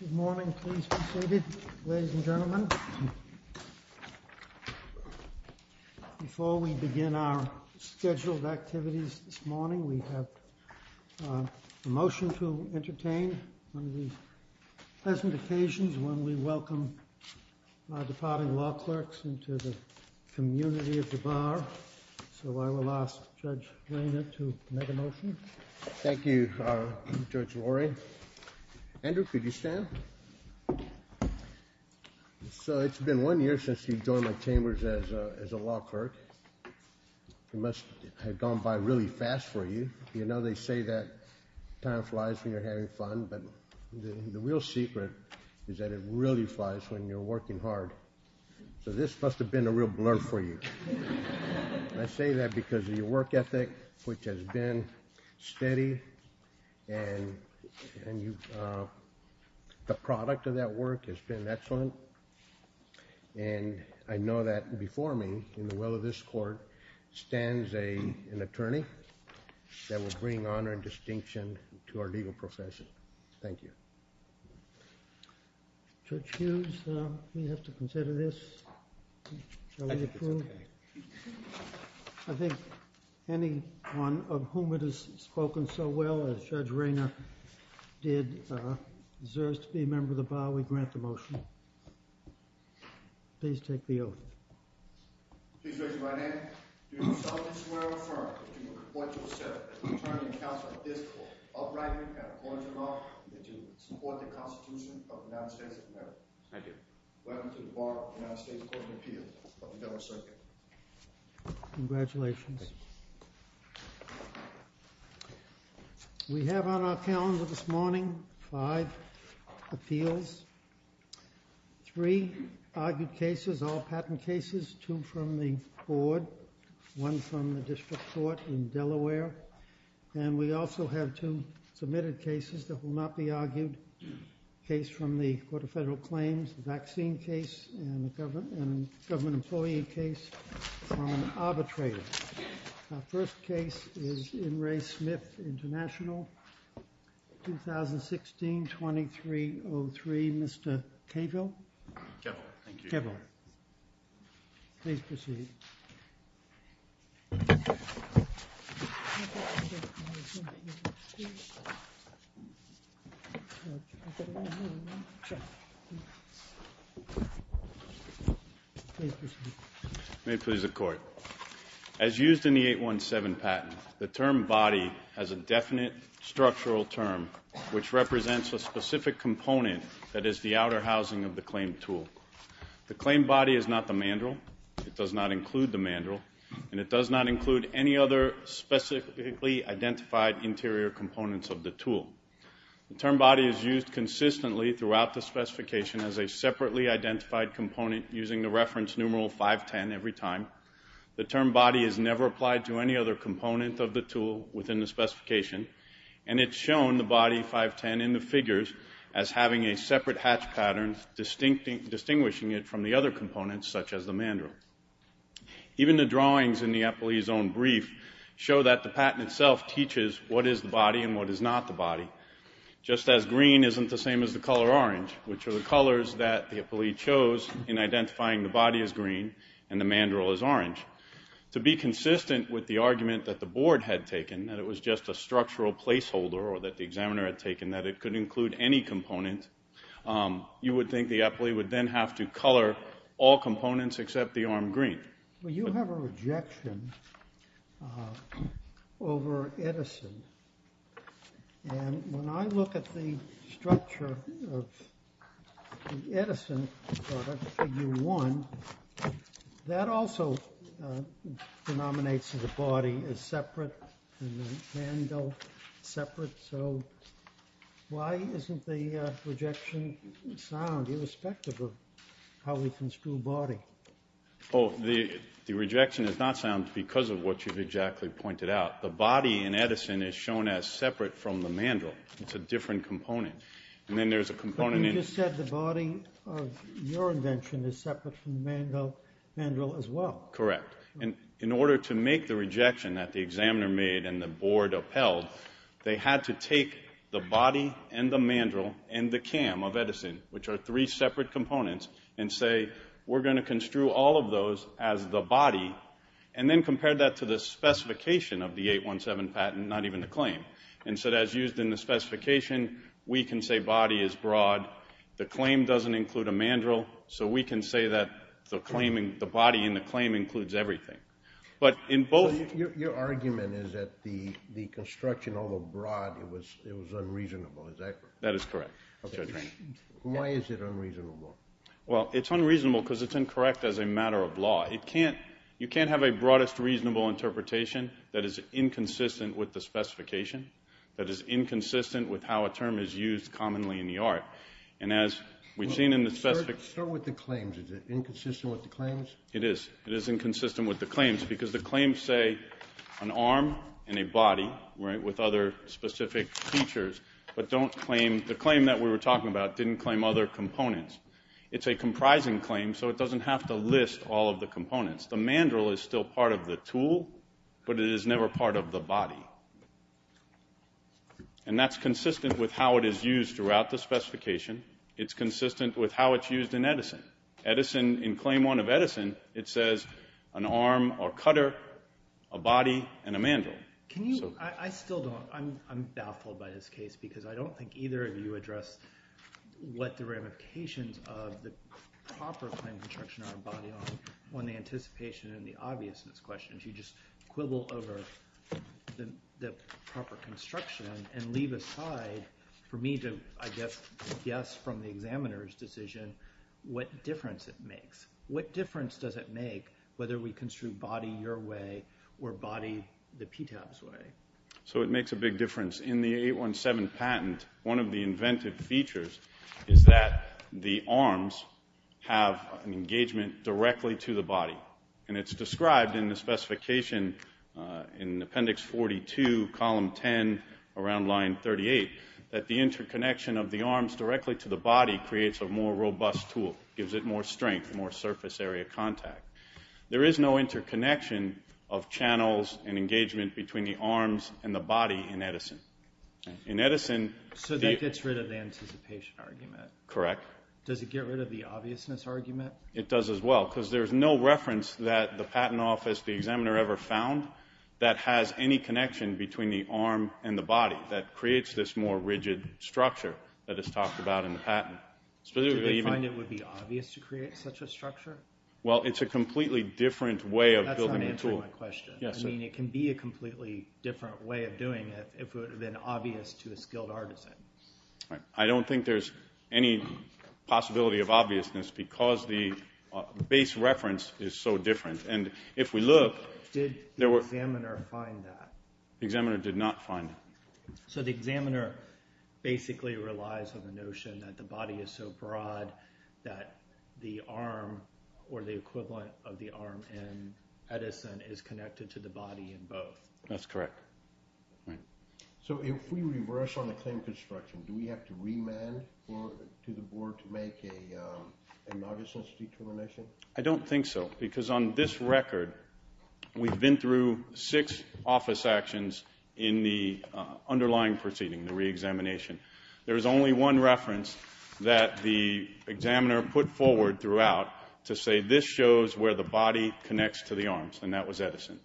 Good morning, please be seated, ladies and gentlemen. Before we begin our scheduled activities this morning, we have a motion to entertain on these pleasant occasions when we welcome departing law clerks into the community of the bar. So I will ask Judge Rayner to make a motion. Thank you, Judge Lori. Andrew, could you stand? So it's been one year since you joined my chambers as a law clerk. It must have gone by really fast for you. You know they say that time flies when you're having fun, but the real secret is that it really flies when you're working hard. So this must have been a real blur for you. I say that because of your work ethic, which has been steady and the product of that work has been excellent. And I know that before me, in the will of this court, stands an attorney that will bring honor and distinction to our legal profession. Thank you. Judge Hughes, we have to consider this. I think it's OK. Of whom it has spoken so well, as Judge Rayner did, deserves to be a member of the bar. We grant the motion. Please take the oath. Please raise your right hand. Do you solemnly swear or affirm that you will report to the senate that the attorney and counsel of this court, upright and according to law, will continue to support the Constitution of the United States of America? I do. Welcome to the Bar of the United States Court of Appeals of the Federal Circuit. Congratulations. We have on our calendar this morning five appeals. Three argued cases, all patent cases. Two from the board. One from the district court in Delaware. And we also have two submitted cases that will not be argued. A case from the Court of Federal Claims, a vaccine case, and a government employee case from arbitrators. Our first case is In Re Smith International, 2016-2303. Mr. Cavill? Cavill. Thank you. Cavill. Please proceed. May it please the court. As used in the 817 patent, the term body has a definite structural term which represents a specific component that is the outer housing of the claim tool. The claim body is not the mandrel. It does not include the mandrel. And it does not include any other specifically identified interior components of the tool. The term body is used consistently throughout the specification as a separately identified component using the reference numeral 510 every time. The term body is never applied to any other component of the tool within the specification. And it's shown, the body 510 in the figures, as having a separate hatch pattern distinguishing it from the other components, such as the mandrel. Even the drawings in the employee's own brief show that the patent itself teaches what is the body and what is not the body. Just as green isn't the same as the color orange, which are the colors that the employee chose in identifying the body as green and the mandrel as orange, to be consistent with the argument that the board had taken, that it was just a structural placeholder or that the examiner had taken, that it could include any component, you would think the employee would then have to color all components except the arm green. Well, you have a rejection over Edison. And when I look at the structure of the Edison figure one, that also denominates that the body is separate and the mandrel separate. So why isn't the rejection sound, irrespective of how we construe body? Oh, the rejection is not sound because of what you've exactly pointed out. The body in Edison is shown as separate from the mandrel. It's a different component. And then there's a component in it. But you just said the body of your invention is separate from the mandrel as well. Correct. And in order to make the rejection that the examiner made and the board upheld, they had to take the body and the mandrel and the cam of Edison, which are three separate components, and say, we're going to construe all of those as the body, and then compare that to the specification of the 817 patent, not even the claim. And so as used in the specification, we can say body is broad. The claim doesn't include a mandrel. So we can say that the body in the claim includes everything. But in both. Your argument is that the construction, although broad, it was unreasonable. Is that correct? That is correct. Why is it unreasonable? Well, it's unreasonable because it's incorrect as a matter of law. You can't have a broadest reasonable interpretation that is inconsistent with the specification, that is inconsistent with how a term is used commonly in the art. And as we've seen in the specific. Start with the claims. Is it inconsistent with the claims? It is. It is inconsistent with the claims because the claims say an arm and a body with other specific features, but don't claim. The claim that we were talking about didn't claim other components. It's a comprising claim, so it doesn't have to list all of the components. The mandrel is still part of the tool, but it is never part of the body. And that's consistent with how it is used throughout the specification. It's consistent with how it's used in Edison. In claim one of Edison, it says an arm or cutter, a body, and a mandrel. I still don't. I'm baffled by this case because I don't think either of you addressed what the ramifications of the proper claim construction on a body are on the anticipation and the obviousness questions. You just quibble over the proper construction and leave aside for me to guess from the examiner's decision what difference it makes. What difference does it make whether we construe body your way or body the PTAB's way? So it makes a big difference. In the 817 patent, one of the inventive features is that the arms have an engagement directly to the body. And it's described in the specification in appendix 42, column 10, around line 38, that the interconnection of the arms directly to the body creates a more robust tool, gives it more strength, more surface area contact. There is no interconnection of channels and engagement between the arms and the body in Edison. In Edison, the- So that gets rid of the anticipation argument. Correct. Does it get rid of the obviousness argument? It does as well. Because there is no reference that the patent office, the examiner ever found, that has any connection between the arm and the body that creates this more rigid structure that is talked about in the patent. Specifically, even- Do they find it would be obvious to create such a structure? Well, it's a completely different way of building a tool. That's not answering my question. Yes, sir. It can be a completely different way of doing it if it would have been obvious to a skilled artisan. I don't think there's any possibility of obviousness because the base reference is so different. And if we look- Did the examiner find that? The examiner did not find it. So the examiner basically relies on the notion that the body is so broad that the arm, or the equivalent of the arm in Edison, is connected to the body in both. That's correct. So if we reverse on the claim construction, do we have to remand to the board to make a nondesense determination? I don't think so. Because on this record, we've been through six office actions in the underlying proceeding, the re-examination. There is only one reference that the examiner put forward throughout to say, this shows where the body connects to the arms. And that was Edison.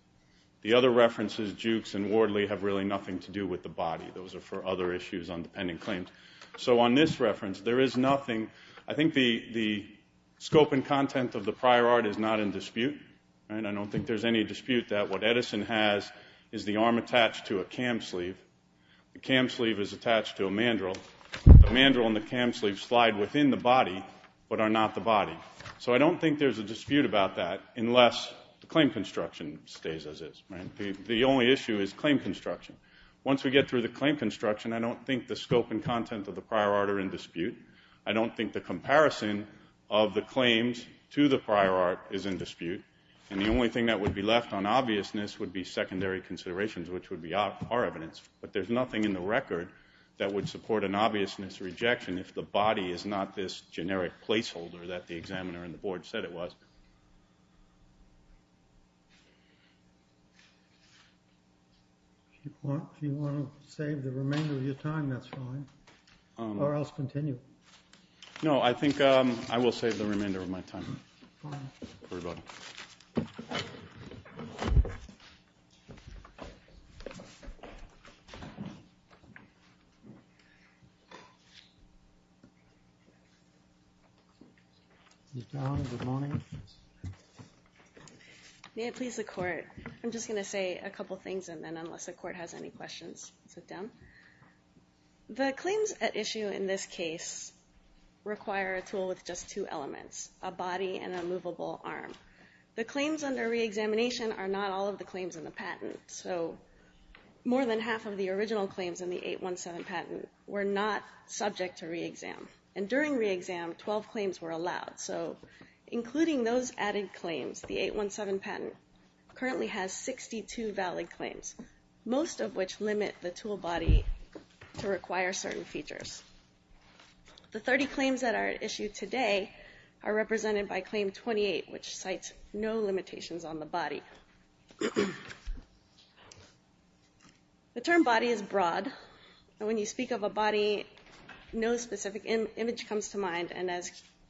The other references, Jukes and Wardley, have really nothing to do with the body. Those are for other issues on the pending claims. So on this reference, there is nothing. I think the scope and content of the prior art is not in dispute. I don't think there's any dispute that what Edison has is the arm attached to a cam sleeve. The cam sleeve is attached to a mandrel. The mandrel and the cam sleeve slide within the body, but are not the body. So I don't think there's a dispute about that unless the claim construction stays as is. The only issue is claim construction. Once we get through the claim construction, I don't think the scope and content of the prior art are in dispute. I don't think the comparison of the claims to the prior art is in dispute. And the only thing that would be left on obviousness would be secondary considerations, which would be our evidence. But there's nothing in the record that would support an obviousness rejection if the body is not this generic placeholder that the examiner and the board said it was. If you want to save the remainder of your time, that's fine. Or else continue. No, I think I will save the remainder of my time. Ms. Dowling, good morning. May it please the court. I'm just going to say a couple of things and then unless the court has any questions, sit down. The claims at issue in this case require a tool with just two elements, a body and a movable arm. The claims under re-examination are not all of the claims in the patent. So more than half of the original claims in the 817 patent were not subject to re-exam. And during re-exam, 12 claims were allowed. So including those added claims, the 817 patent currently has 62 valid claims, most of which limit the tool body to require certain features. The 30 claims that are at issue today are represented by claim 28, which cites no limitations on the body. The term body is broad. And when you speak of a body, no specific image comes to mind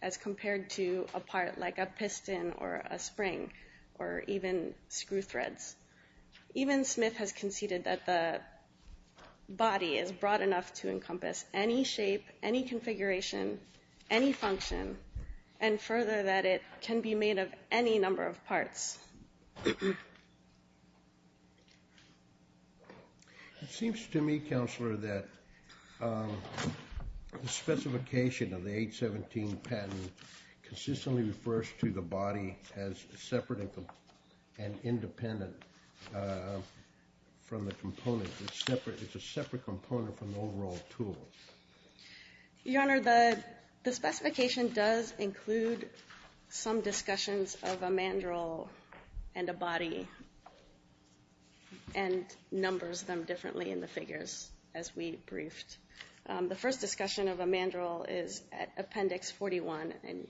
as compared to a part like a piston or a spring or even screw threads. Even Smith has conceded that the body is broad enough to encompass any shape, any configuration, any function, and further that it can be made of any number of parts. It seems to me, Counselor, that the specification of the 817 patent consistently refers to the body as separate and independent from the component. It's a separate component from the overall tool. Your Honor, the specification does include some discussions of a mandrel, and a body, and numbers them differently in the figures as we briefed. The first discussion of a mandrel is at appendix 41. And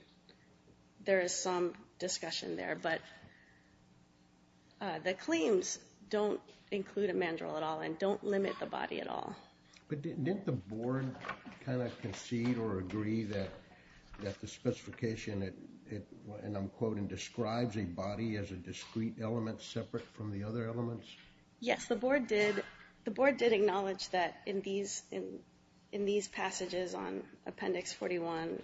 there is some discussion there. But the claims don't include a mandrel at all and don't limit the body at all. But didn't the board kind of concede or agree that the specification, and I'm quoting, describes a body as a discrete element separate from the other elements? Yes, the board did acknowledge that in these passages on appendix 41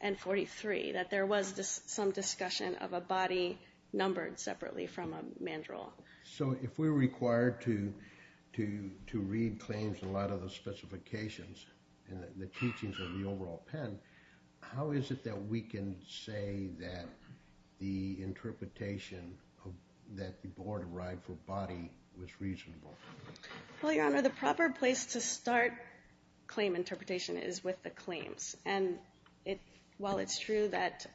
and 43, that there was some discussion of a body numbered separately from a mandrel. So if we're required to read claims in light of the specifications and the teachings of the overall pen, how is it that we can say that the interpretation that the board arrived for body was reasonable? Well, Your Honor, the proper place to start claim interpretation is with the claims. And while it's true that.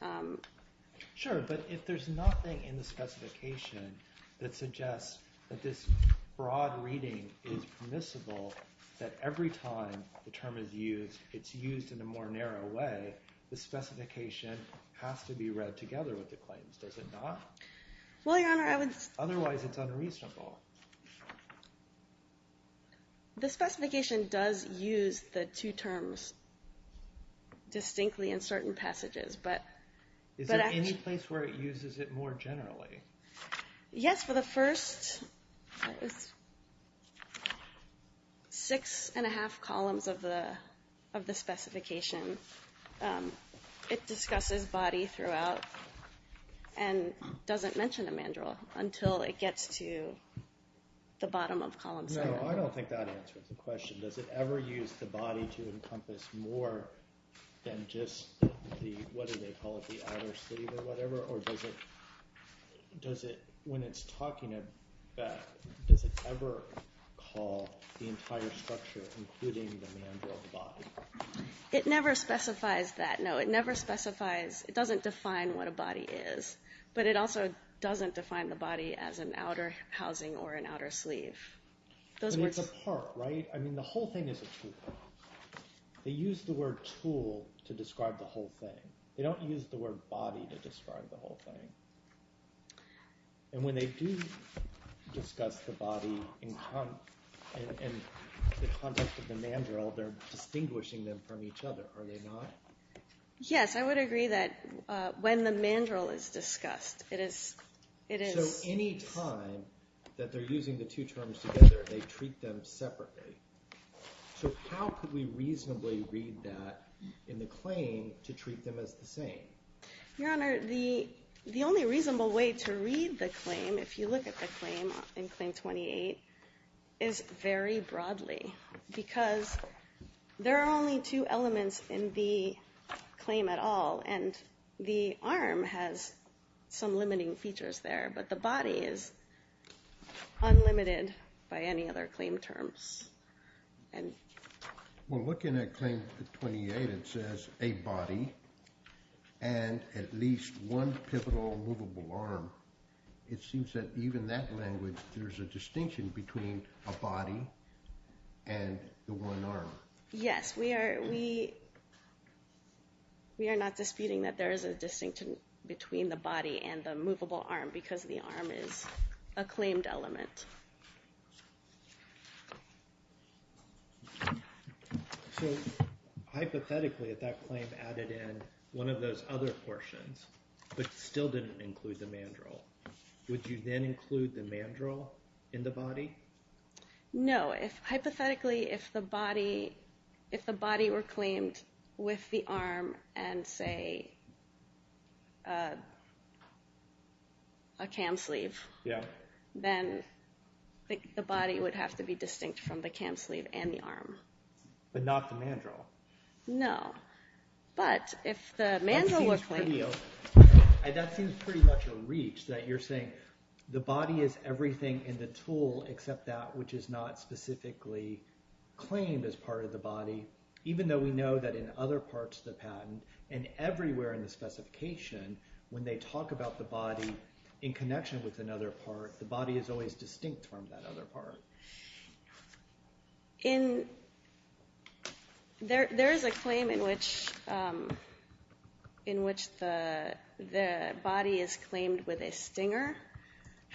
Sure, but if there's nothing in the specification that suggests that this broad reading is permissible, that every time the term is used, it's used in a more narrow way, the specification has to be read together with the claims, does it not? Well, Your Honor, I would. Otherwise, it's unreasonable. The specification does use the two terms distinctly in certain passages, but. Is there any place where it uses it more generally? Yes, for the first six and a half columns of the specification, it discusses body throughout and doesn't mention a mandrel until it gets to the bottom of column seven. No, I don't think that answers the question. Does it ever use the body to encompass more than just the, what do they call it, the outer sleeve or whatever? Or does it, when it's talking about, does it ever call the entire structure, including the mandrel, the body? It never specifies that, no. It never specifies, it doesn't define what a body is. But it also doesn't define the body as an outer housing or an outer sleeve. Those words. I mean, it's a part, right? I mean, the whole thing is a tool. They use the word tool to describe the whole thing. They don't use the word body to describe the whole thing. And when they do discuss the body in the context of the mandrel, they're distinguishing them from each other, are they not? Yes, I would agree that when the mandrel is discussed, it is. So any time that they're using the two terms together, they treat them separately. So how could we reasonably read that in the claim to treat them as the same? Your Honor, the only reasonable way to read the claim, if you look at the claim in Claim 28, is very broadly. Because there are only two elements in the claim at all. And the arm has some limiting features there. But the body is unlimited by any other claim terms. And we're looking at Claim 28, it says a body and at least one pivotal movable arm. It seems that even that language, there's a distinction between a body and the one arm. Yes, we are not disputing that there is a distinction between the body and the movable arm, because the arm is a claimed element. So hypothetically, if that claim added in one of those other portions, but still didn't include the mandrel, would you then include the mandrel in the body? No. Hypothetically, if the body were claimed with the arm and, say, a cam sleeve, then the body would have to be distinct from the cam sleeve and the arm. But not the mandrel. No. But if the mandrel were claimed. That seems pretty much a reach, that you're saying, the body is everything in the tool, except that which is not specifically claimed as part of the body. Even though we know that in other parts of the patent, and everywhere in the specification, when they talk about the body in connection with another part, the body is always distinct from that other part. There is a claim in which the body is claimed with a stinger.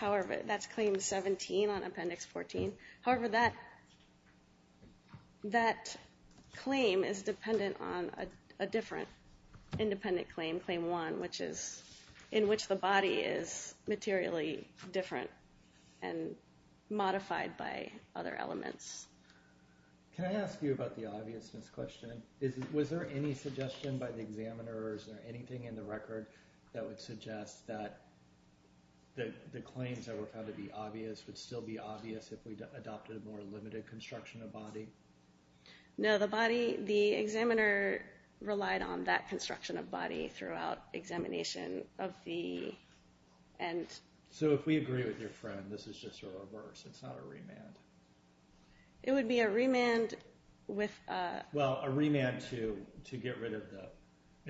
That's claim 17 on appendix 14. However, that claim is dependent on a different independent claim, claim 1, in which the body is materially different and modified by other elements. Can I ask you about the obviousness question? Was there any suggestion by the examiner, or is there anything in the record that would suggest that the claims that were found to be obvious would still be obvious if we adopted a more limited construction of body? No, the body, the examiner relied on that construction of body throughout examination of the end. So if we agree with your friend, this is just a reverse. It's not a remand. It would be a remand with a- Well, a remand to get rid of the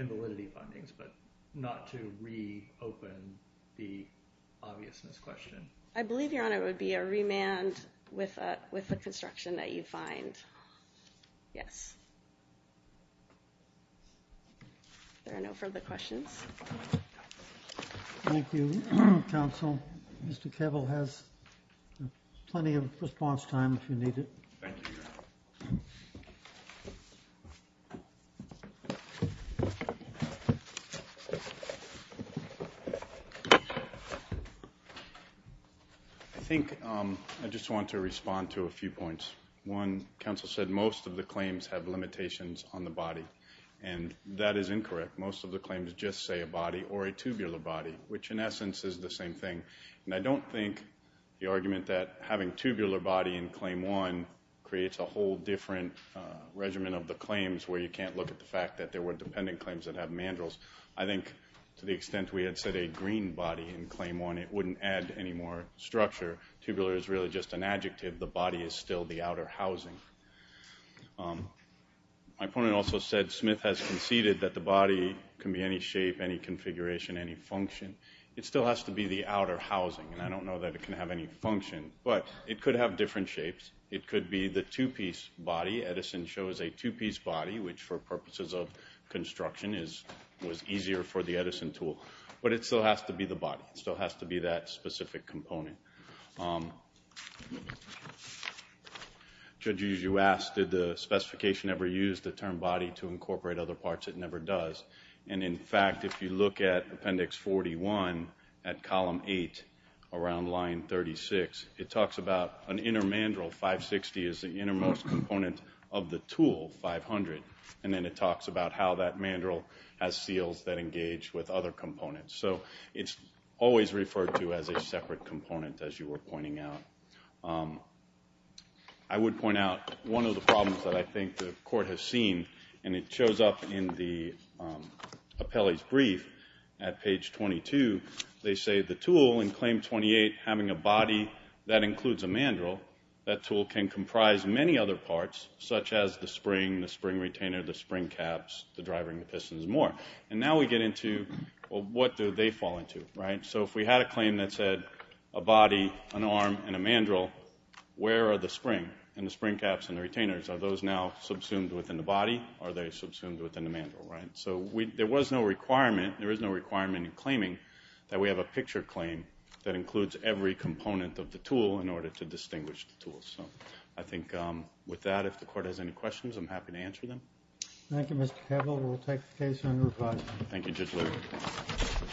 invalidity findings, but not to reopen the obviousness question. I believe, Your Honor, it would be a remand with the construction that you find. Yes. There are no further questions. Thank you, counsel. Mr. Kevel has plenty of response time if you need it. Thank you, Your Honor. I think I just want to respond to a few points. One, counsel said most of the claims have limitations on the body, and that is incorrect. Most of the claims just say a body or a tubular body, which in essence is the same thing. And I don't think the argument that having tubular body in claim one creates a whole different regimen of the claims, where you can't look at the fact that there were dependent claims that have mandrills. I think to the extent we had said a green body in claim one, it wouldn't add any more structure. Tubular is really just an adjective. The body is still the outer housing. My opponent also said Smith has conceded that the body can be any shape, any configuration, any function. It still has to be the outer housing. And I don't know that it can have any function. But it could have different shapes. It could be the two-piece body. Edison shows a two-piece body, which for purposes of construction was easier for the Edison tool. But it still has to be the body. It still has to be that specific component. Judges, you asked, did the specification ever use the term body to incorporate other parts? It never does. And in fact, if you look at appendix 41 at column 8 around line 36, it talks about an inner mandrill. 560 is the innermost component of the tool, 500. And then it talks about how that mandrill has seals that engage with other components. So it's always referred to as a separate component. As you were pointing out, I would point out one of the problems that I think the court has seen, and it shows up in the appellee's brief at page 22. They say, the tool in claim 28 having a body that includes a mandrill, that tool can comprise many other parts, such as the spring, the spring retainer, the spring caps, the driving pistons, and more. And now we get into, well, what do they fall into, right? So if we had a claim that said, a body, an arm, and a mandrill, where are the spring, and the spring caps, and the retainers? Are those now subsumed within the body, or are they subsumed within the mandrill, right? So there was no requirement, there is no requirement in claiming that we have a picture claim that includes every component of the tool in order to distinguish the tool. So I think with that, if the court has any questions, I'm happy to answer them. Thank you, Mr. Koeppel. We'll take the case under review. Thank you, Judge Lew.